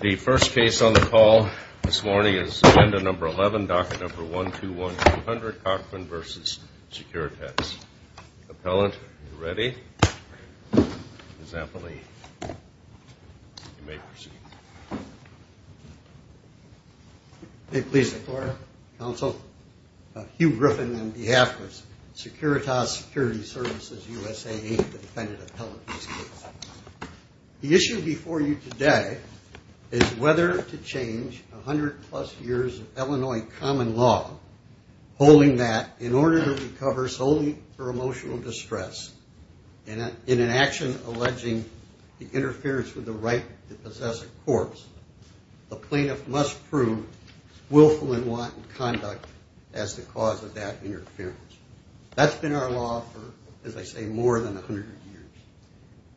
The first case on the call this morning is Agenda No. 11, Docket No. 121200, Cochran v. Securitas. Appellant, are you ready? Ms. Anthony, you may proceed. May it please the floor, counsel. Hugh Griffin on behalf of Securitas Security Services USA, Inc., the defendant appellant in this case. The issue before you today is whether to change 100-plus years of Illinois common law, holding that in order to recover solely for emotional distress and in an action alleging the interference with the right to possess a corpse, a plaintiff must prove willful and wanton conduct as the cause of that interference. That's been our law for, as I say, more than 100 years.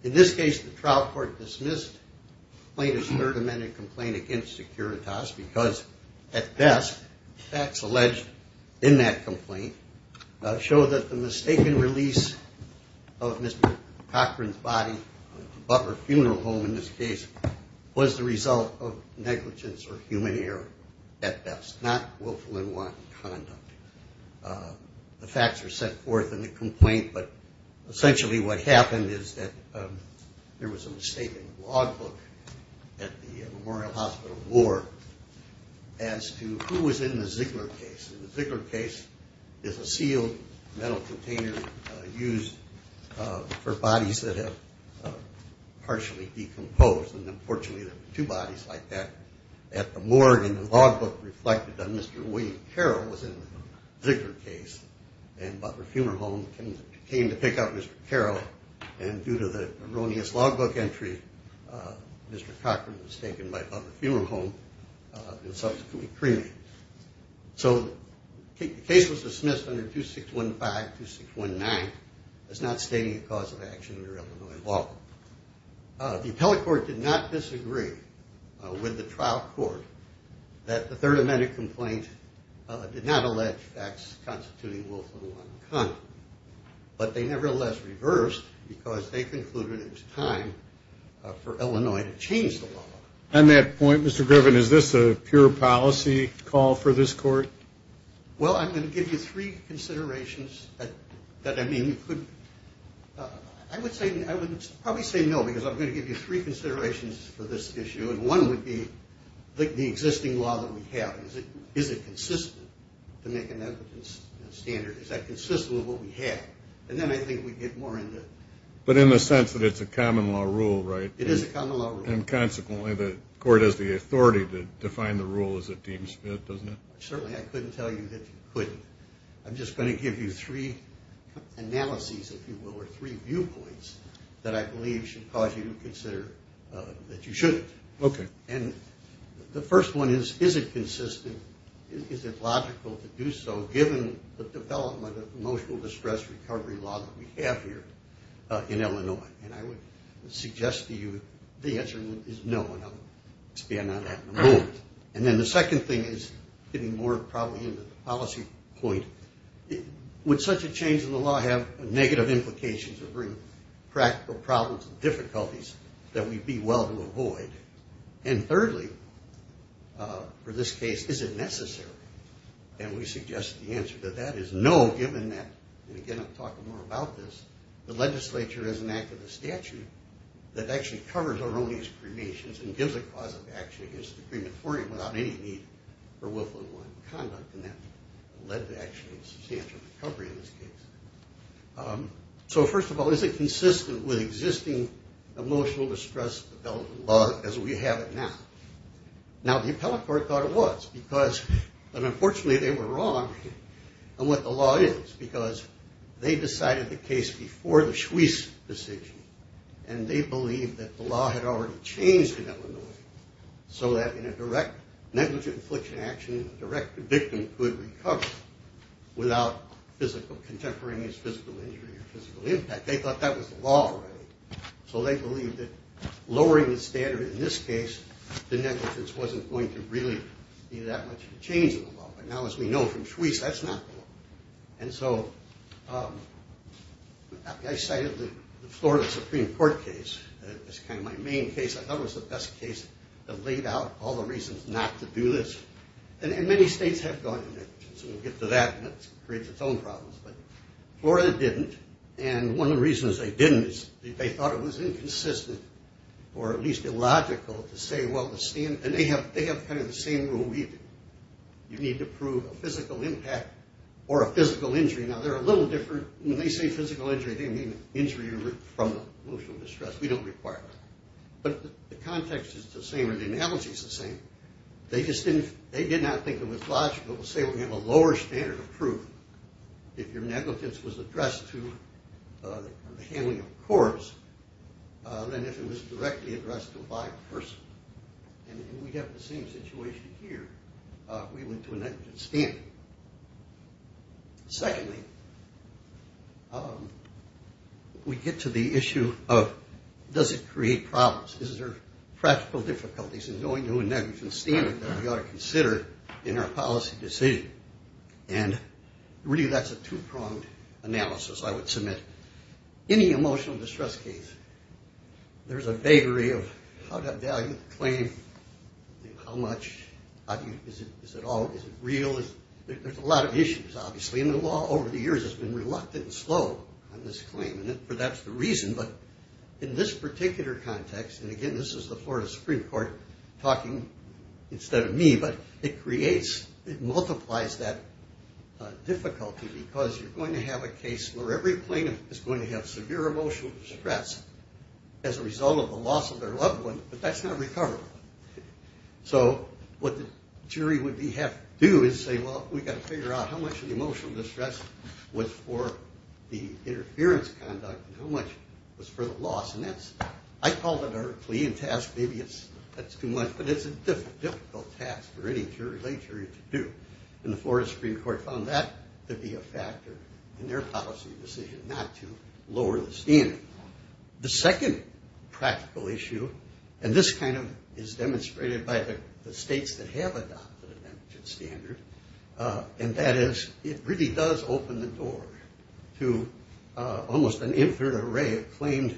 In this case, the trial court dismissed the plaintiff's third amended complaint against Securitas because at best, facts alleged in that complaint show that the mistaken release of Mr. Cochran's body to Butler Funeral Home in this case was the result of negligence or human error at best, not willful and wanton conduct. The facts were set forth in the complaint, but essentially what happened is that there was a mistake in the logbook at the Memorial Hospital Ward as to who was in the Ziegler case. The Ziegler case is a sealed metal container used for bodies that have partially decomposed, and unfortunately there were two bodies like that at the morgue and the logbook reflected that Mr. William Carroll was in the Ziegler case and Butler Funeral Home came to pick up Mr. Carroll, and due to the erroneous logbook entry, Mr. Cochran was taken by Butler Funeral Home and subsequently cremated. So the case was dismissed under 2615-2619 as not stating a cause of action under Illinois law. The appellate court did not disagree with the trial court that the third amended complaint did not allege facts constituting willful and wanton conduct, but they nevertheless reversed because they concluded it was time for Illinois to change the law. On that point, Mr. Griffin, is this a pure policy call for this court? Well, I'm going to give you three considerations that I mean you could – I would probably say no because I'm going to give you three considerations for this issue, and one would be the existing law that we have. Is it consistent to make an evidence standard? Is that consistent with what we have? And then I think we'd get more into it. But in the sense that it's a common law rule, right? It is a common law rule. And consequently, the court has the authority to define the rule as it deems fit, doesn't it? Certainly, I couldn't tell you that you couldn't. I'm just going to give you three analyses, if you will, or three viewpoints, that I believe should cause you to consider that you shouldn't. Okay. And the first one is, is it consistent? Is it logical to do so given the development of emotional distress recovery law that we have here in Illinois? And I would suggest to you the answer is no, and I'll expand on that in a moment. And then the second thing is getting more probably into the policy point. Would such a change in the law have negative implications or bring practical problems and difficulties that we'd be well to avoid? And thirdly, for this case, is it necessary? And we suggest the answer to that is no, given that – and again, I'm talking more about this – the legislature, as an act of the statute, that actually covers our own excremations and gives a cause of action against the crematorium without any need for Wilfred Warren conduct, and that led to actually substantial recovery in this case. So first of all, is it consistent with existing emotional distress development law as we have it now? Now, the appellate court thought it was, but unfortunately they were wrong on what the law is because they decided the case before the Schweiss decision, and they believed that the law had already changed in Illinois so that in a direct negligent infliction action, a direct victim could recover without contemporaneous physical injury or physical impact. They thought that was the law already. So they believed that lowering the standard in this case, the negligence wasn't going to really be that much of a change in the law. But now, as we know from Schweiss, that's not the law. And so I cited the Florida Supreme Court case as kind of my main case. I thought it was the best case that laid out all the reasons not to do this. And many states have gone in there. So we'll get to that, and it creates its own problems. But Florida didn't, and one of the reasons they didn't is they thought it was inconsistent or at least illogical to say, well, the standard – and they have kind of the same rule, you need to prove a physical impact or a physical injury. Now, they're a little different. When they say physical injury, they mean injury from emotional distress. We don't require that. But the context is the same, or the analogy is the same. They just didn't – they did not think it was logical to say, well, we have a lower standard of proof if your negligence was addressed to the handling of a corpse than if it was directly addressed to a live person. And we have the same situation here. We went to a negligence standard. Secondly, we get to the issue of does it create problems? Is there practical difficulties in going to a negligence standard that we ought to consider in our policy decision? And really, that's a two-pronged analysis, I would submit. Any emotional distress case, there's a vagary of how to value the claim, how much, is it all – is it real? There's a lot of issues, obviously. And the law over the years has been reluctant and slow on this claim, and that's the reason. But in this particular context – and again, this is the Florida Supreme Court talking instead of me, but it creates – it multiplies that difficulty because you're going to have a case where every plaintiff is going to have severe emotional distress as a result of the loss of their loved one, but that's not recoverable. So what the jury would have to do is say, well, we've got to figure out how much of the emotional distress was for the interference conduct and how much was for the loss. And that's – I call that our clean task. Maybe that's too much, but it's a difficult task for any jury to do. And the Florida Supreme Court found that to be a factor in their policy decision not to lower the standard. The second practical issue – and this kind of is demonstrated by the states that have adopted an amputated standard, and that is it really does open the door to almost an infinite array of claimed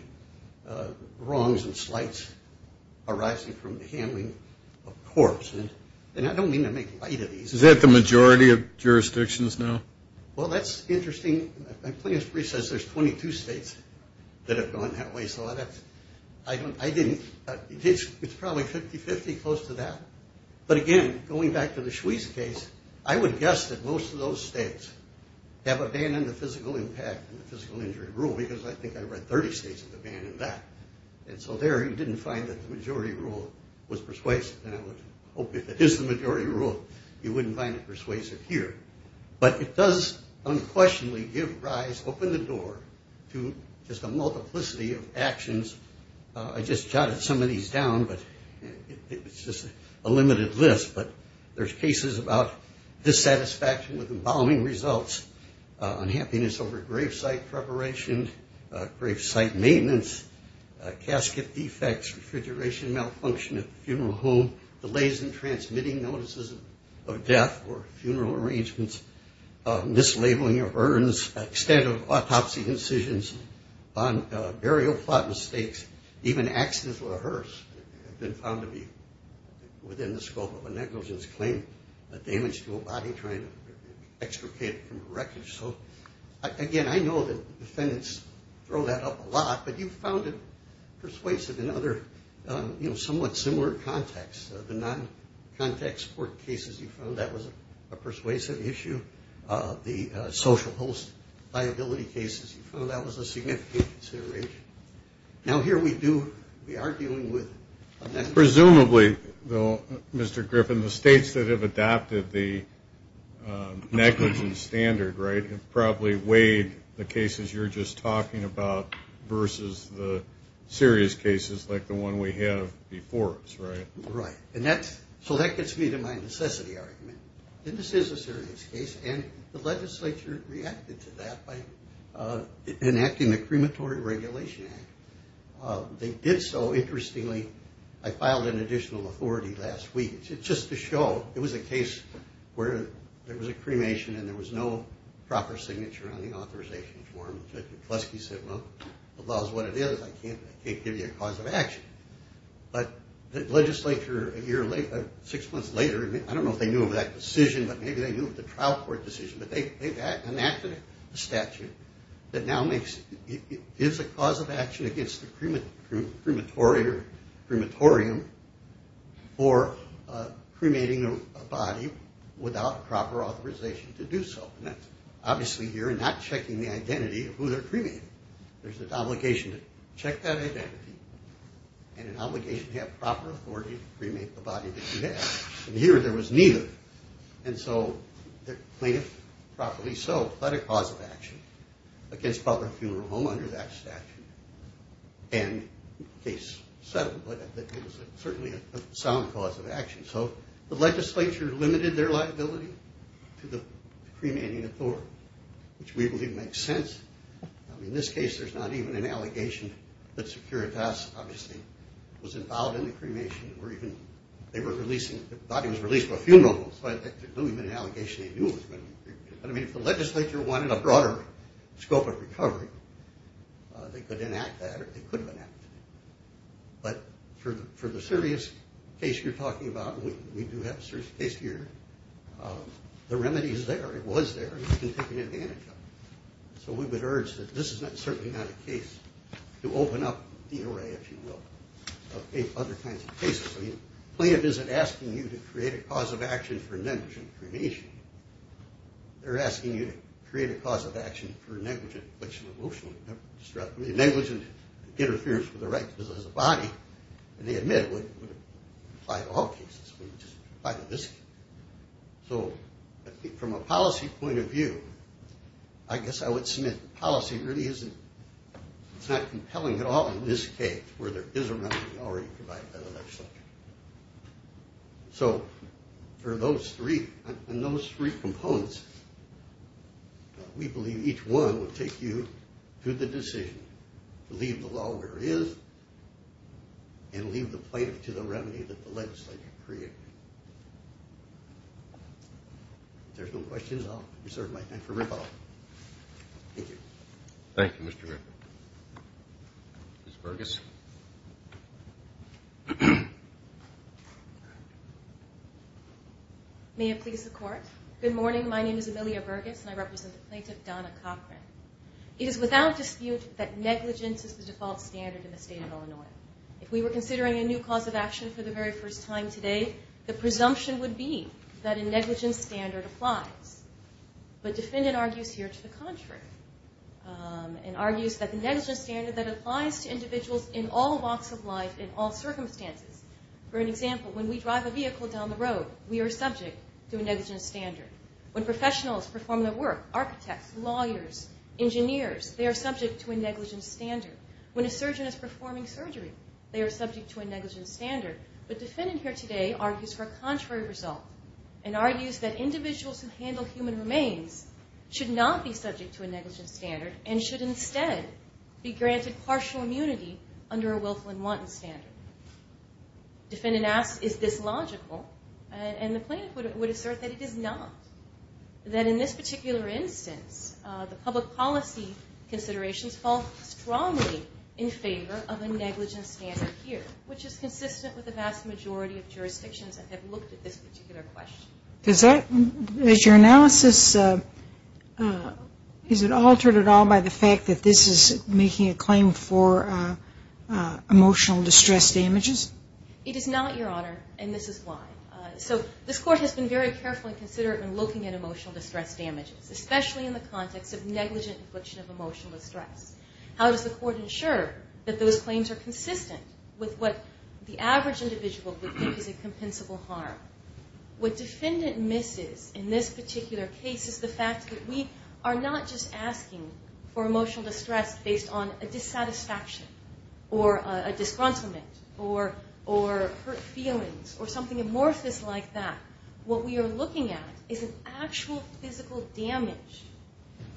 wrongs and slights arising from the handling of corpse. And I don't mean to make light of these. Is that the majority of jurisdictions now? Well, that's interesting. My plaintiff's brief says there's 22 states that have gone that way, so that's – I didn't – it's probably 50-50 close to that. But again, going back to the Shweze case, I would guess that most of those states have abandoned the physical impact and the physical injury rule because I think I read 30 states have abandoned that. And so there you didn't find that the majority rule was persuasive. And I would hope if it is the majority rule, you wouldn't find it persuasive here. But it does unquestionably give rise – open the door to just a multiplicity of actions. I just jotted some of these down, but it's just a limited list. But there's cases about dissatisfaction with embalming results, unhappiness over grave site preparation, grave site maintenance, casket defects, refrigeration malfunction at the funeral home, delays in transmitting notices of death or funeral arrangements, mislabeling of urns, extent of autopsy incisions, burial plot mistakes, even accidents with a hearse have been found to be within the scope of a negligence claim, damage to a body, trying to extricate it from the wreckage. So, again, I know that defendants throw that up a lot, but you found it persuasive in other somewhat similar contexts. The non-contact support cases, you found that was a persuasive issue. The social host liability cases, you found that was a significant consideration. Now, here we do – we are dealing with – Presumably, though, Mr. Griffin, the states that have adopted the negligence standard, right, have probably weighed the cases you're just talking about versus the serious cases like the one we have before us, right? Right, and that's – so that gets me to my necessity argument. This is a serious case, and the legislature reacted to that by enacting the Crematory Regulation Act. They did so, interestingly. I filed an additional authority last week. It's just to show it was a case where there was a cremation and there was no proper signature on the authorization form. Judge McCluskey said, well, the law is what it is. I can't give you a cause of action. But the legislature, a year later – six months later – I don't know if they knew of that decision, but maybe they knew of the trial court decision, but they've enacted a statute that now makes – gives a cause of action against the crematory or crematorium for cremating a body without proper authorization to do so. And that's – obviously, you're not checking the identity of who they're cremating. There's an obligation to check that identity and an obligation to have proper authority to cremate the body that you have. And here, there was neither. And so the plaintiff, properly so, had a cause of action against proper funeral home under that statute. And the case settled, but it was certainly a sound cause of action. So the legislature limited their liability to the cremating authority, which we believe makes sense. In this case, there's not even an allegation that Securitas obviously was involved in the cremation or even – they were releasing – the body was released for a funeral home, so there couldn't have been an allegation they knew it was going to be cremated. But, I mean, if the legislature wanted a broader scope of recovery, they could enact that or they could have enacted it. But for the serious case you're talking about, and we do have a serious case here, the remedy is there, it was there, and we've been taking advantage of it. So we would urge that this is certainly not a case to open up the array, if you will, of other kinds of cases. I mean, the plaintiff isn't asking you to create a cause of action for negligent cremation. They're asking you to create a cause of action for negligent infliction of emotional distress. I mean, negligent interference with the right to possess a body, and they admit it would apply to all cases. It would just apply to this case. So I think from a policy point of view, I guess I would submit policy really isn't – where there is a remedy already provided by the legislature. So for those three, and those three components, we believe each one would take you to the decision to leave the law where it is and leave the plaintiff to the remedy that the legislature created. If there's no questions, I'll reserve my time for rebuttal. Thank you. Thank you, Mr. Rickett. Ms. Burgess. May it please the Court. Good morning. My name is Amelia Burgess, and I represent the plaintiff, Donna Cochran. It is without dispute that negligence is the default standard in the state of Illinois. If we were considering a new cause of action for the very first time today, the presumption would be that a negligence standard applies. But defendant argues here to the contrary and argues that the negligence standard that applies to individuals in all walks of life, in all circumstances – for an example, when we drive a vehicle down the road, we are subject to a negligence standard. When professionals perform their work, architects, lawyers, engineers, they are subject to a negligence standard. When a surgeon is performing surgery, they are subject to a negligence standard. But defendant here today argues for a contrary result and argues that individuals who handle human remains should not be subject to a negligence standard and should instead be granted partial immunity under a willful and wanton standard. Defendant asks, is this logical? And the plaintiff would assert that it is not. That in this particular instance, the public policy considerations fall strongly in favor of a negligence standard here, which is consistent with the vast majority of jurisdictions that have looked at this particular question. Is your analysis – is it altered at all by the fact that this is making a claim for emotional distress damages? It is not, Your Honor, and this is why. So this Court has been very careful and considerate in looking at emotional distress damages, especially in the context of negligent infliction of emotional distress. How does the Court ensure that those claims are consistent with what the average individual would think is a compensable harm? What defendant misses in this particular case is the fact that we are not just asking for emotional distress based on a dissatisfaction or a disgruntlement or hurt feelings or something amorphous like that. What we are looking at is an actual physical damage,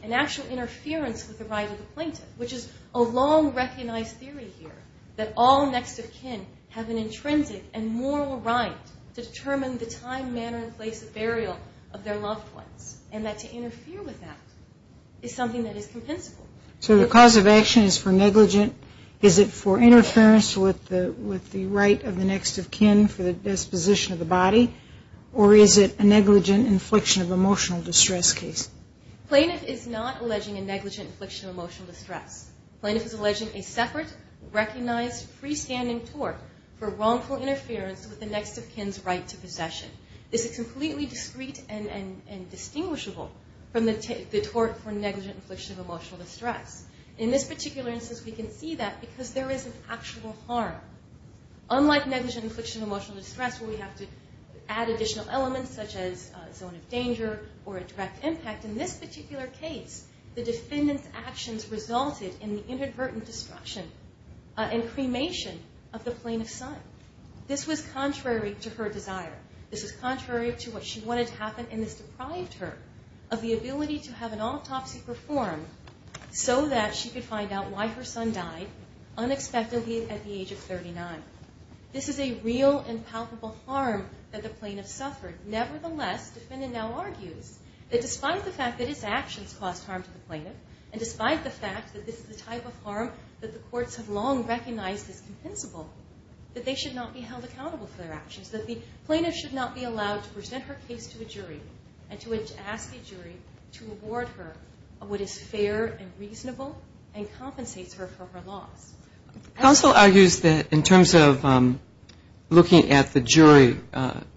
an actual interference with the right of the plaintiff, which is a long-recognized theory here that all next of kin have an intrinsic and moral right to determine the time, manner, and place of burial of their loved ones and that to interfere with that is something that is compensable. So the cause of action is for negligent – is it for interference with the right of the next of kin for the disposition of the body or is it a negligent infliction of emotional distress case? Plaintiff is not alleging a negligent infliction of emotional distress. Plaintiff is alleging a separate, recognized, freestanding tort for wrongful interference with the next of kin's right to possession. This is completely discrete and distinguishable from the tort for negligent infliction of emotional distress. In this particular instance, we can see that because there is an actual harm. Unlike negligent infliction of emotional distress where we have to add additional elements such as a zone of danger or a direct impact, in this particular case, the defendant's actions resulted in the inadvertent destruction and cremation of the plaintiff's son. This was contrary to her desire. This was contrary to what she wanted to happen and this deprived her of the ability to have an autopsy performed so that she could find out why her son died unexpectedly at the age of 39. This is a real and palpable harm that the plaintiff suffered. Nevertheless, the defendant now argues that despite the fact that his actions caused harm to the plaintiff and despite the fact that this is the type of harm that the courts have long recognized as compensable, that they should not be held accountable for their actions, that the plaintiff should not be allowed to present her case to a jury and to ask the jury to award her what is fair and reasonable and compensates her for her loss. Counsel argues that in terms of looking at the jury,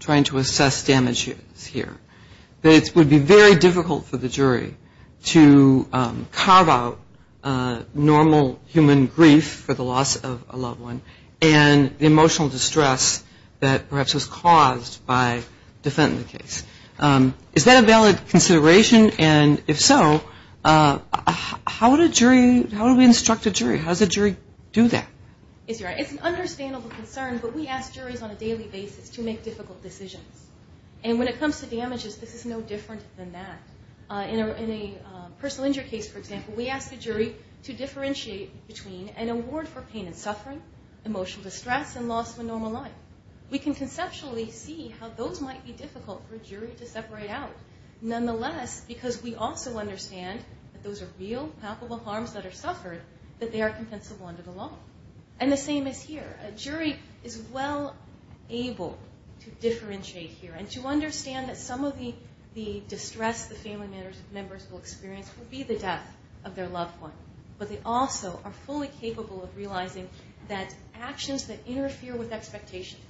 trying to assess damages here, that it would be very difficult for the jury to carve out normal human grief for the loss of a loved one and the emotional distress that perhaps was caused by defending the case. Is that a valid consideration? And if so, how would a jury, how would we instruct a jury? How does a jury do that? It's an understandable concern, but we ask juries on a daily basis to make difficult decisions. And when it comes to damages, this is no different than that. In a personal injury case, for example, we ask a jury to differentiate between an award for pain and suffering, emotional distress, and loss of a normal life. We can conceptually see how those might be difficult for a jury to separate out. Nonetheless, because we also understand that those are real, palpable harms that are suffered, that they are compensable under the law. And the same is here. A jury is well able to differentiate here and to understand that some of the distress the family members will experience will be the death of their loved one. But they also are fully capable of realizing that actions that interfere with expectations,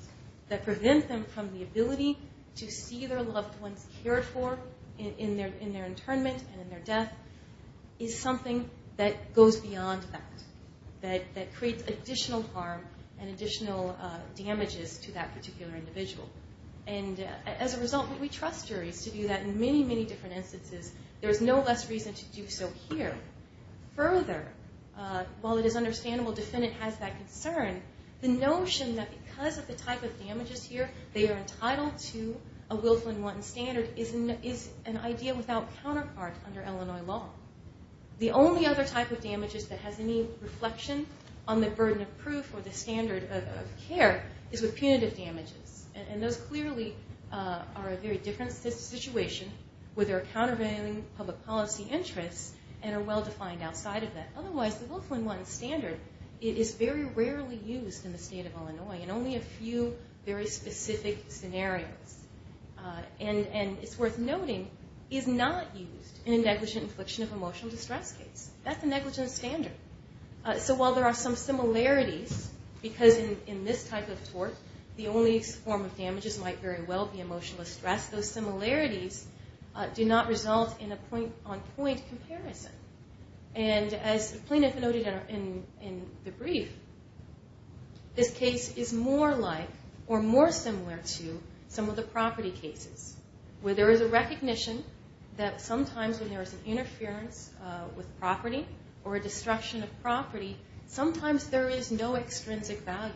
that prevent them from the ability to see their loved ones cared for in their internment and in their death, is something that goes beyond that, that creates additional harm and additional damages to that particular individual. And as a result, we trust juries to do that in many, many different instances. There is no less reason to do so here. Further, while it is understandable a defendant has that concern, the notion that because of the type of damages here, they are entitled to a Wilflin-Wanton standard is an idea without counterpart under Illinois law. The only other type of damages that has any reflection on the burden of proof or the standard of care is with punitive damages. And those clearly are a very different situation where there are countervailing public policy interests and are well defined outside of that. Otherwise, the Wilflin-Wanton standard, it is very rarely used in the state of Illinois, and only a few very specific scenarios. And it's worth noting, is not used in a negligent infliction of emotional distress case. That's a negligent standard. So while there are some similarities, because in this type of tort, the only form of damages might very well be emotional distress, those similarities do not result in a point-on-point comparison. And as the plaintiff noted in the brief, this case is more like or more similar to some of the property cases where there is a recognition that sometimes when there is an interference with property or a destruction of property, sometimes there is no extrinsic value.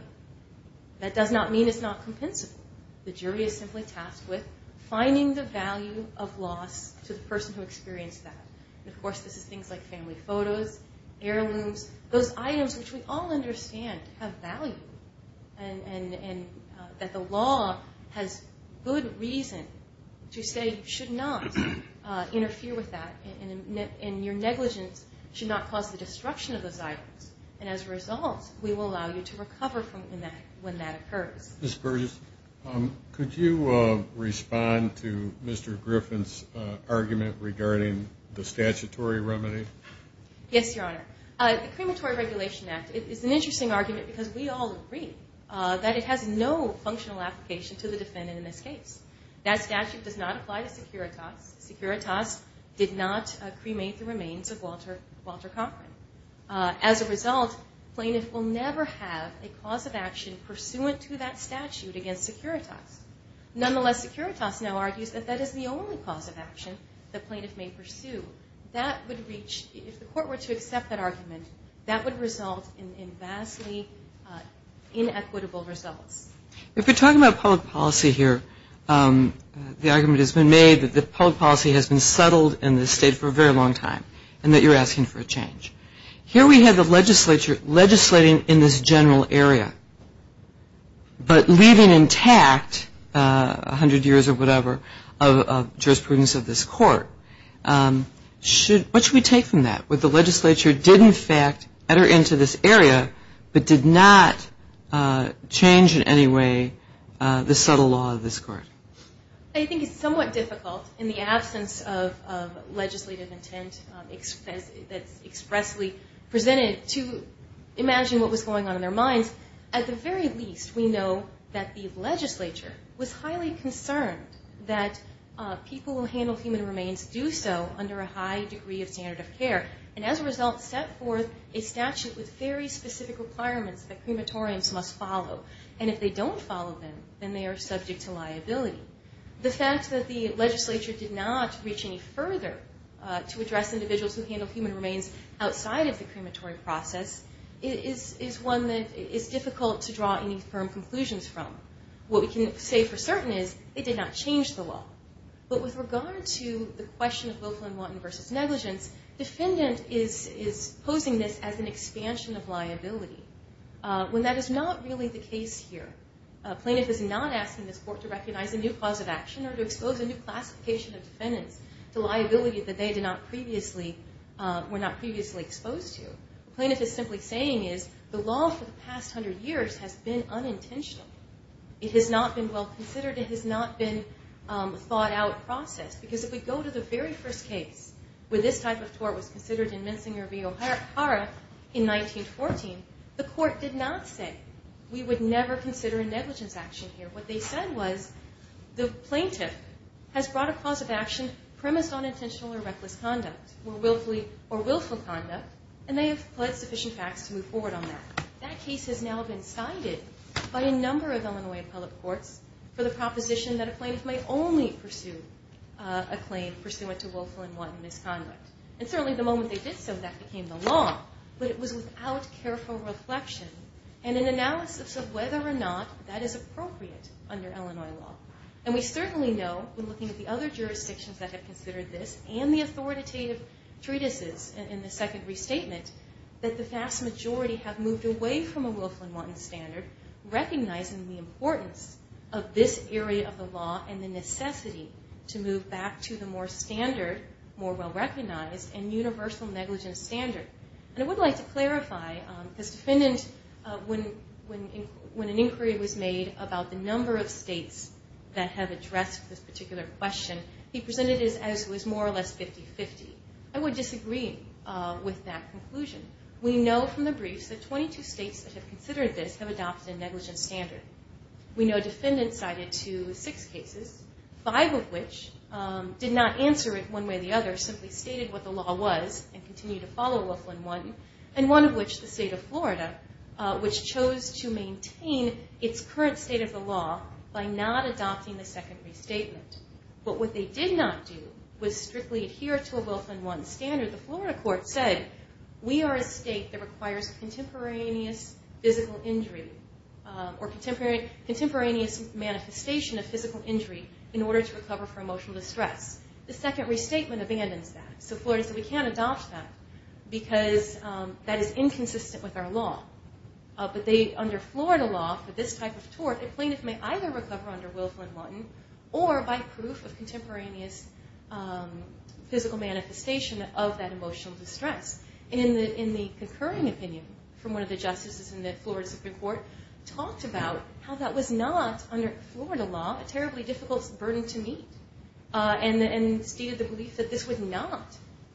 That does not mean it's not compensable. The jury is simply tasked with finding the value of loss to the person who experienced that. And, of course, this is things like family photos, heirlooms, those items which we all understand have value and that the law has good reason to say you should not interfere with that and your negligence should not cause the destruction of those items. And as a result, we will allow you to recover from that when that occurs. Ms. Burgess, could you respond to Mr. Griffin's argument regarding the statutory remedy? Yes, Your Honor. The Crematory Regulation Act is an interesting argument because we all agree that it has no functional application to the defendant in this case. That statute does not apply to Securitas. Securitas did not cremate the remains of Walter Cochran. As a result, plaintiff will never have a cause of action pursuant to that statute against Securitas. Nonetheless, Securitas now argues that that is the only cause of action the plaintiff may pursue. That would reach, if the court were to accept that argument, that would result in vastly inequitable results. If you're talking about public policy here, the argument has been made that the public policy has been settled in this state for a very long time and that you're asking for a change. Here we have the legislature legislating in this general area but leaving intact 100 years or whatever of jurisprudence of this court. What should we take from that? Would the legislature did, in fact, enter into this area but did not change in any way the subtle law of this court? I think it's somewhat difficult in the absence of legislative intent that's expressly presented to imagine what was going on in their minds. At the very least, we know that the legislature was highly concerned that people who handle human remains do so under a high degree of standard of care. As a result, set forth a statute with very specific requirements that crematoriums must follow. If they don't follow them, then they are subject to liability. The fact that the legislature did not reach any further to address individuals who handle human remains outside of the crematory process is one that is difficult to draw any firm conclusions from. What we can say for certain is it did not change the law. But with regard to the question of Wilflin-Waughton versus negligence, defendant is posing this as an expansion of liability when that is not really the case here. A plaintiff is not asking this court to recognize a new cause of action or to expose a new classification of defendants to liability that they were not previously exposed to. The plaintiff is simply saying is the law for the past 100 years has been unintentional. It has not been well considered. It has not been a thought-out process. Because if we go to the very first case where this type of tort was considered in Minsinger v. O'Hara in 1914, the court did not say we would never consider a negligence action here. What they said was the plaintiff has brought a cause of action premised on intentional or reckless conduct or willful conduct, and they have pled sufficient facts to move forward on that. That case has now been cited by a number of Illinois appellate courts for the proposition that a plaintiff may only pursue a claim pursuant to willful and wanton misconduct. And certainly the moment they did so, that became the law, but it was without careful reflection and an analysis of whether or not that is appropriate under Illinois law. And we certainly know, when looking at the other jurisdictions that have considered this and the authoritative treatises in the second restatement, that the vast majority have moved away from a willful and wanton standard, recognizing the importance of this area of the law and the necessity to move back to the more standard, more well-recognized and universal negligence standard. And I would like to clarify, this defendant, when an inquiry was made about the number of states that have addressed this particular question, he presented it as it was more or less 50-50. I would disagree with that conclusion. We know from the briefs that 22 states that have considered this have adopted a negligence standard. We know defendants cited to six cases, five of which did not answer it one way or the other, simply stated what the law was and continued to follow a willful and wanton, and one of which, the state of Florida, which chose to maintain its current state of the law by not adopting the second restatement. But what they did not do was strictly adhere to a willful and wanton standard. The Florida court said, we are a state that requires contemporaneous physical injury or contemporaneous manifestation of physical injury in order to recover from emotional distress. The second restatement abandons that. So Florida said we can't adopt that because that is inconsistent with our law. But under Florida law, for this type of tort, a plaintiff may either recover under willful and wanton or by proof of contemporaneous physical manifestation of that emotional distress. In the concurring opinion from one of the justices in the Florida Supreme Court, talked about how that was not, under Florida law, a terribly difficult burden to meet and stated the belief that this would not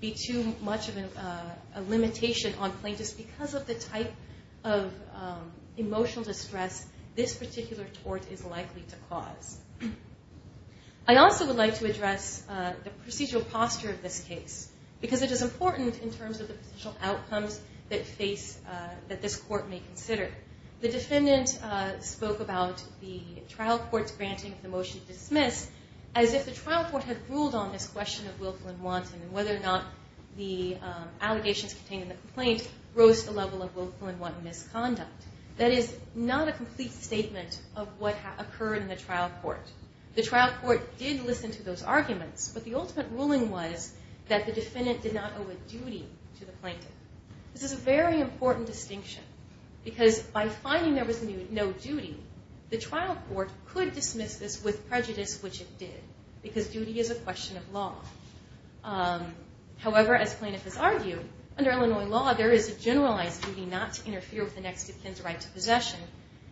be too much of a limitation on plaintiffs because of the type of emotional distress this particular tort is likely to cause. I also would like to address the procedural posture of this case because it is important in terms of the potential outcomes that this court may consider. The defendant spoke about the trial court's granting of the motion to dismiss as if the trial court had ruled on this question of willful and wanton and whether or not the allegations contained in the complaint rose to the level of willful and wanton misconduct. That is not a complete statement of what occurred in the trial court. The trial court did listen to those arguments, but the ultimate ruling was that the defendant did not owe a duty to the plaintiff. This is a very important distinction because by finding there was no duty, the trial court could dismiss this with prejudice, which it did, because duty is a question of law. However, as plaintiff has argued, under Illinois law there is a generalized duty not to interfere with the next of kin's right to possession,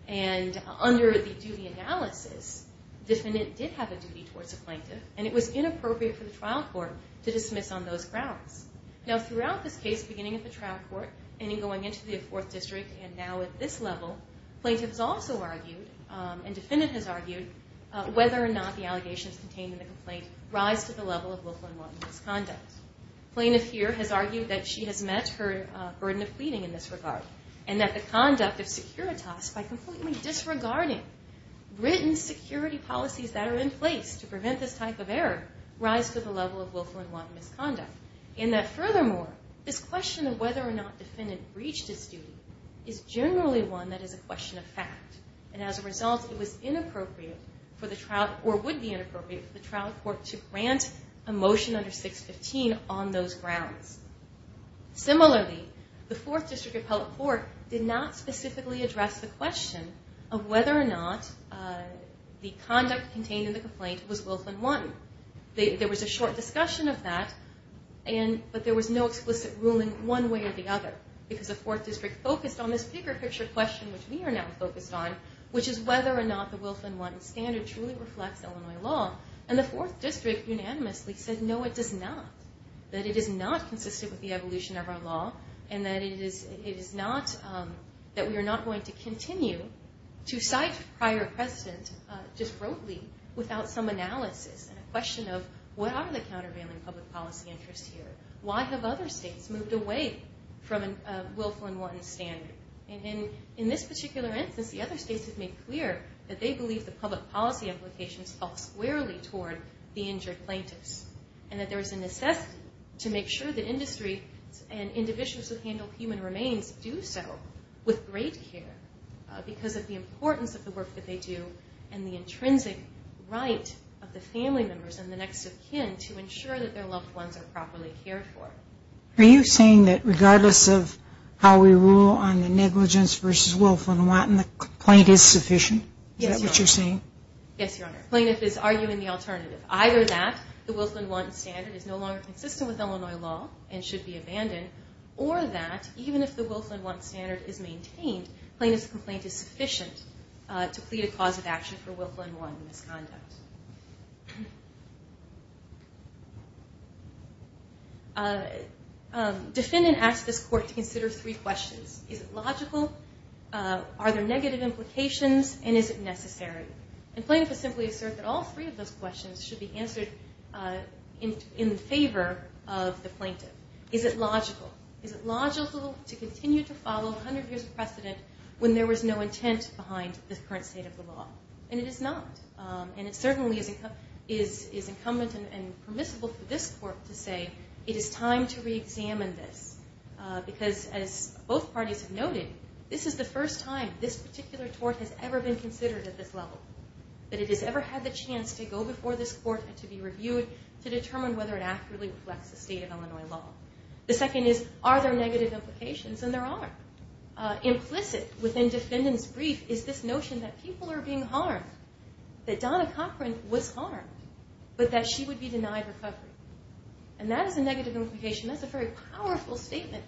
and under the duty analysis, the defendant did have a duty towards the plaintiff and it was inappropriate for the trial court to dismiss on those grounds. Throughout this case, beginning at the trial court and going into the fourth district, and now at this level, plaintiff has also argued and defendant has argued whether or not the allegations contained in the complaint rise to the level of willful and wanton misconduct. Plaintiff here has argued that she has met her burden of pleading in this regard and that the conduct of securitas, by completely disregarding written security policies that are in place to prevent this type of error, rise to the level of willful and wanton misconduct. And that furthermore, this question of whether or not the defendant breached his duty is generally one that is a question of fact. And as a result, it was inappropriate for the trial, or would be inappropriate for the trial court to grant a motion under 615 on those grounds. Similarly, the fourth district appellate court did not specifically address the question of whether or not the conduct contained in the complaint was willful and wanton. There was a short discussion of that, but there was no explicit ruling one way or the other. Because the fourth district focused on this bigger picture question which we are now focused on, which is whether or not the willful and wanton standard truly reflects Illinois law. And the fourth district unanimously said, no, it does not. That it is not consistent with the evolution of our law, and that we are not going to continue to cite prior precedent just broadly without some analysis and a question of what are the countervailing public policy interests here? Why have other states moved away from a willful and wanton standard? And in this particular instance, the other states have made clear that they believe the public policy implications fall squarely toward the injured plaintiffs, and that there is a necessity to make sure the industry and individuals who handle human remains do so with great care because of the importance of the work that they do and the intrinsic right of the family members and the next of kin to ensure that their loved ones are properly cared for. Are you saying that regardless of how we rule on the negligence versus willful is that what you're saying? Yes, Your Honor. Plaintiff is arguing the alternative. Either that the willful and wanton standard is no longer consistent with Illinois law and should be abandoned, or that even if the willful and wanton standard is maintained, plaintiff's complaint is sufficient to plead a cause of action for willful and wanton misconduct. Defendant asked this court to consider three questions. Is it logical? Are there negative implications? And is it necessary? And plaintiff has simply asserted that all three of those questions should be answered in favor of the plaintiff. Is it logical? Is it logical to continue to follow 100 years of precedent when there was no intent behind the current state of the law? And it is not. And it certainly is incumbent and permissible for this court to say it is time to reexamine this because, as both parties have noted, this is the first time this particular tort has ever been considered at this level, that it has ever had the chance to go before this court and to be reviewed to determine whether it accurately reflects the state of Illinois law. The second is, are there negative implications? And there are. Implicit within defendant's brief is this notion that people are being harmed, that Donna Cochran was harmed, but that she would be denied recovery. And that is a negative implication. That's a very powerful statement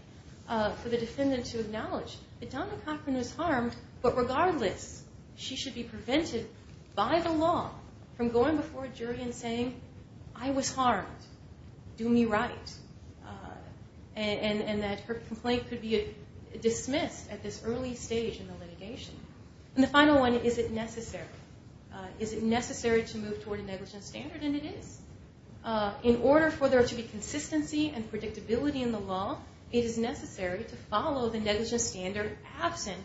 for the defendant to acknowledge, that Donna Cochran was harmed, but regardless, she should be prevented by the law from going before a jury and saying, I was harmed. Do me right. And that her complaint could be dismissed at this early stage in the litigation. And the final one, is it necessary? Is it necessary to move toward a negligence standard? And it is. In order for there to be consistency and predictability in the law, it is necessary to follow the negligence standard absent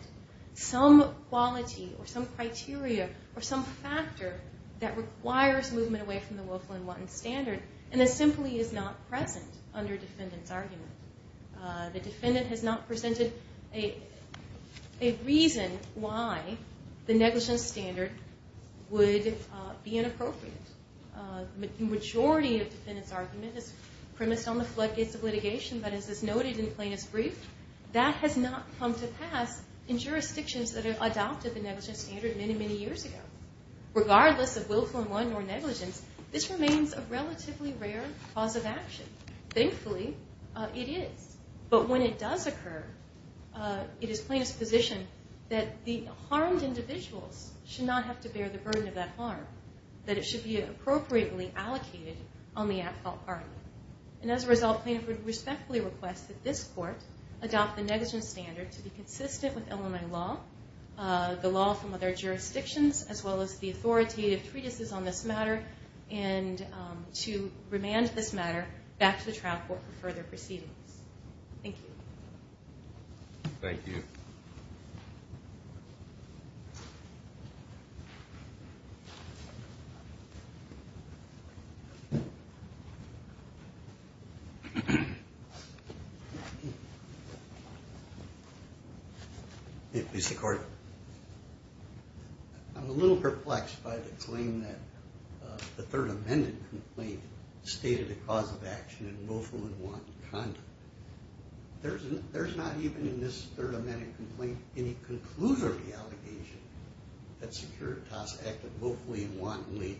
some quality or some criteria or some factor that requires movement away from the Wilflin-Watten standard, and that simply is not present under defendant's argument. The defendant has not presented a reason why the negligence standard would be inappropriate. The majority of defendant's argument is premised on the floodgates of litigation, but as is noted in Plaintiff's brief, that has not come to pass in jurisdictions that have adopted the negligence standard many, many years ago. Regardless of Wilflin-Watten or negligence, this remains a relatively rare cause of action. Thankfully, it is. But when it does occur, it is Plaintiff's position that the harmed individuals should not have to bear the burden of that harm, that it should be appropriately allocated on the at-fault party. And as a result, Plaintiff would respectfully request that this Court adopt the negligence standard to be consistent with Illinois law, the law from other jurisdictions, as well as the authoritative treatises on this matter, and to remand this matter back to the trial court for further proceedings. Thank you. Thank you. Mr. Gordon. I'm a little perplexed by the claim that the Third Amendment complaint stated a cause of action in Wilflin-Watten conduct. There's not even in this Third Amendment complaint any conclusory allegation that Securitas acted willfully and wantonly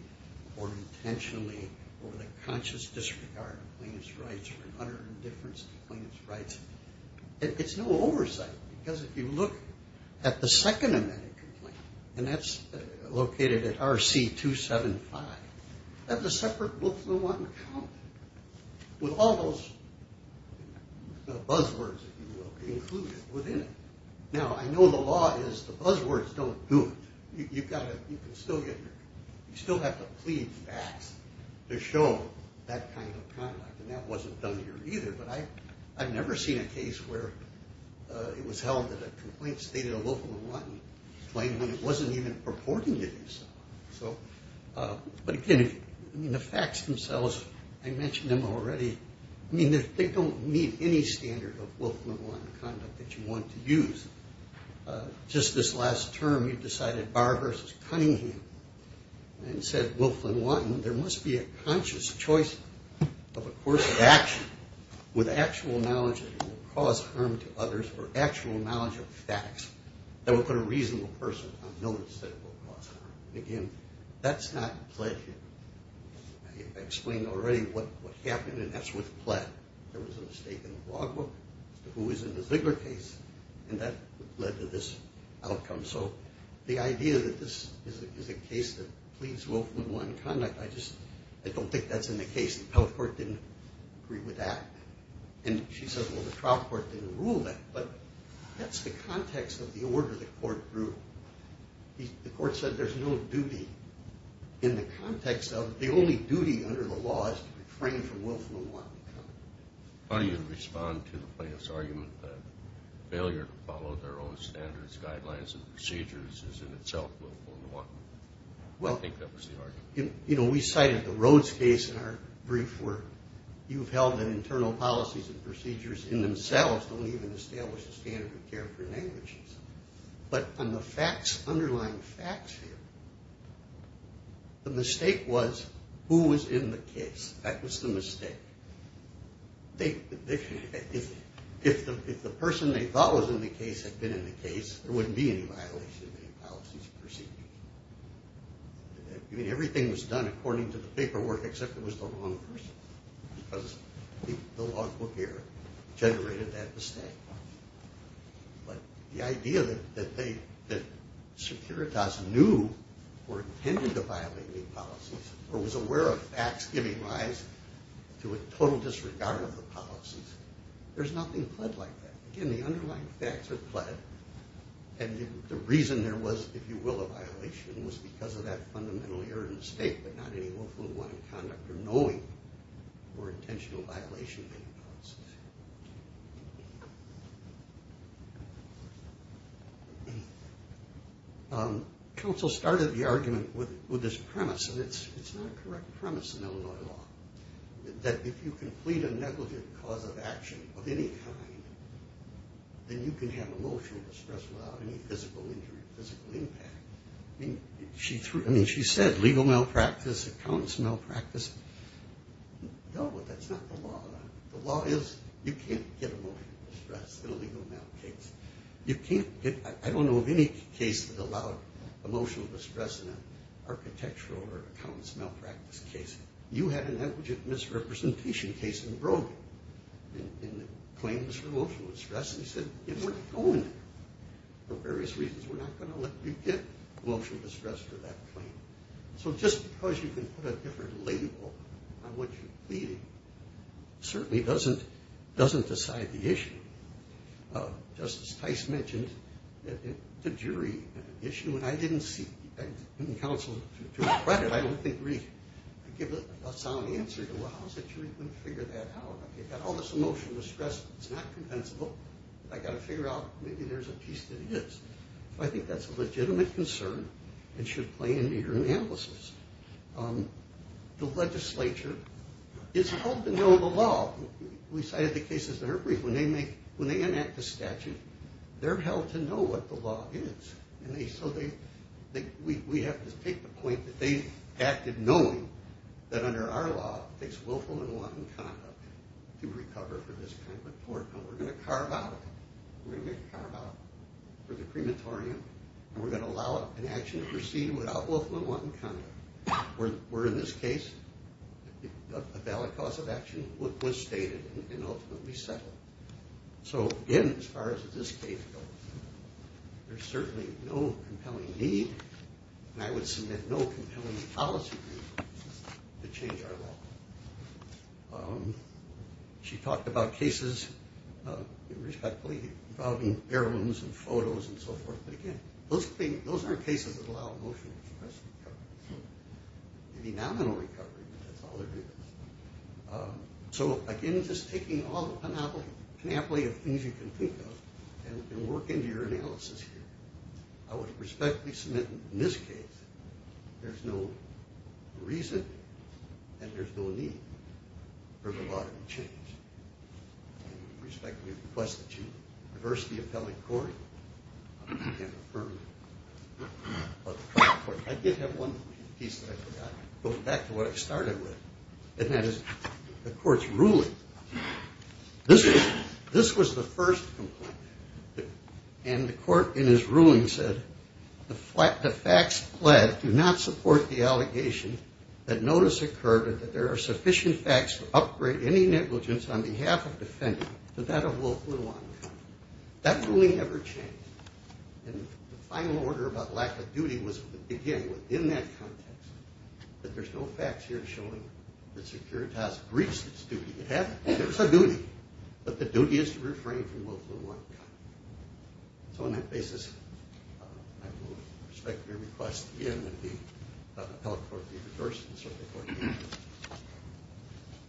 or intentionally over the conscious disregard of plaintiff's rights or under indifference to the plaintiff's rights. It's no oversight, because if you look at the Second Amendment complaint, and that's located at RC 275, that's a separate Wilflin-Watten account, with all those buzzwords, if you will, included within it. Now, I know the law is the buzzwords don't do it. You still have to plead facts to show that kind of conduct, and that wasn't done here either, but I've never seen a case where it was held that a complaint stated a Wilflin-Watten claim when it wasn't even purporting to do so. But again, the facts themselves, I mentioned them already. I mean, they don't meet any standard of Wilflin-Watten conduct that you want to use. Just this last term, you decided Barr v. Cunningham and said Wilflin-Watten, there must be a conscious choice of a course of action with actual knowledge that it will cause harm to others or actual knowledge of facts that will put a reasonable person on notice that it will cause harm. Again, that's not pledging. I explained already what happened, and that's with pled. There was a mistake in the blog book as to who was in the Ziegler case, and that led to this outcome. So the idea that this is a case that pleads Wilflin-Watten conduct, I don't think that's in the case. The public court didn't agree with that, and she said, well, the trial court didn't rule that, but that's the context of the order the court drew. The court said there's no duty in the context of The only duty under the law is to refrain from Wilflin-Watten conduct. How do you respond to the plaintiff's argument that failure to follow their own standards, guidelines, and procedures is in itself Wilflin-Watten? I think that was the argument. We cited the Rhodes case in our brief where you've held that internal policies and procedures in themselves don't even establish a standard of care for languages. But on the facts, underlying facts here, the mistake was who was in the case. That was the mistake. If the person they thought was in the case had been in the case, there wouldn't be any violation of any policies or procedures. I mean, everything was done according to the paperwork except it was the wrong person because the law book here generated that mistake. But the idea that Securitas knew or intended to violate any policies or was aware of facts giving rise to a total disregard of the policies, there's nothing pled like that. Again, the underlying facts are pled, and the reason there was, if you will, a violation was because of that fundamentally errant mistake, but not any Wilflin-Watten conduct or knowing or intentional violation of any policies. Counsel started the argument with this premise, and it's not a correct premise in Illinois law, that if you complete a negligent cause of action of any kind, then you can have emotional distress without any physical injury or physical impact. I mean, she said legal malpractice, accounts malpractice. No, that's not the law. The law is you can't get emotional distress in a legal malpractice case. You can't get, I don't know of any case that allowed emotional distress in an architectural or accounts malpractice case. You had an negligent misrepresentation case in Brogan in the claims for emotional distress, and he said it wasn't going there for various reasons. We're not going to let you get emotional distress for that claim. So just because you can put a different label on what you're pleading, certainly doesn't decide the issue. Justice Tice mentioned the jury issue, and I didn't seek counsel to regret it. I don't think we could give a sound answer to, well, how is a jury going to figure that out? I've got all this emotional distress that's not compensable. I've got to figure out maybe there's a piece that is. I think that's a legitimate concern and should play into your analysis. The legislature is held to know the law. We cited the cases in her brief. When they enact a statute, they're held to know what the law is, and so we have to take the point that they acted knowing that under our law it takes willful and wanton conduct to recover for this kind of a tort. We're going to carve out for the crematorium, and we're going to allow an action to proceed without willful and wanton conduct, where in this case a valid cause of action was stated and ultimately settled. So again, as far as this case goes, there's certainly no compelling need, and I would submit no compelling policy to change our law. She talked about cases, respectfully, involving heirlooms and photos and so forth, but again, those aren't cases that allow emotional recovery. Maybe nominal recovery, but that's all there is. So again, just taking all the panoply of things you can think of and work into your analysis here. I would respectfully submit in this case there's no reason and there's no need for the law to be changed. I respectfully request that you reverse the appellate court and affirm the court. I did have one piece that I forgot, going back to what I started with, and that is the court's ruling. This was the first complaint, and the court in its ruling said, the facts pled do not support the allegation that notice occurred that there are sufficient facts to upgrade any negligence on behalf of the defendant to that of Wolf Lujan County. That ruling never changed. And the final order about lack of duty was, again, within that context, that there's no facts here showing that Securitas breached its duty. It happened. There's a duty, but the duty is to refrain from Wolf Lujan County. So on that basis, I respectfully request again that the appellate court be reversed. Thank you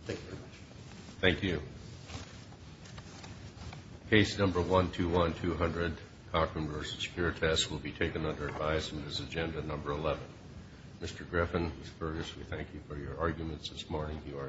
very much. Thank you. Case number 121200, Cochran v. Securitas, will be taken under advice in this agenda number 11. Mr. Griffin, Ms. Fergus, we thank you for your arguments this morning. You are excused.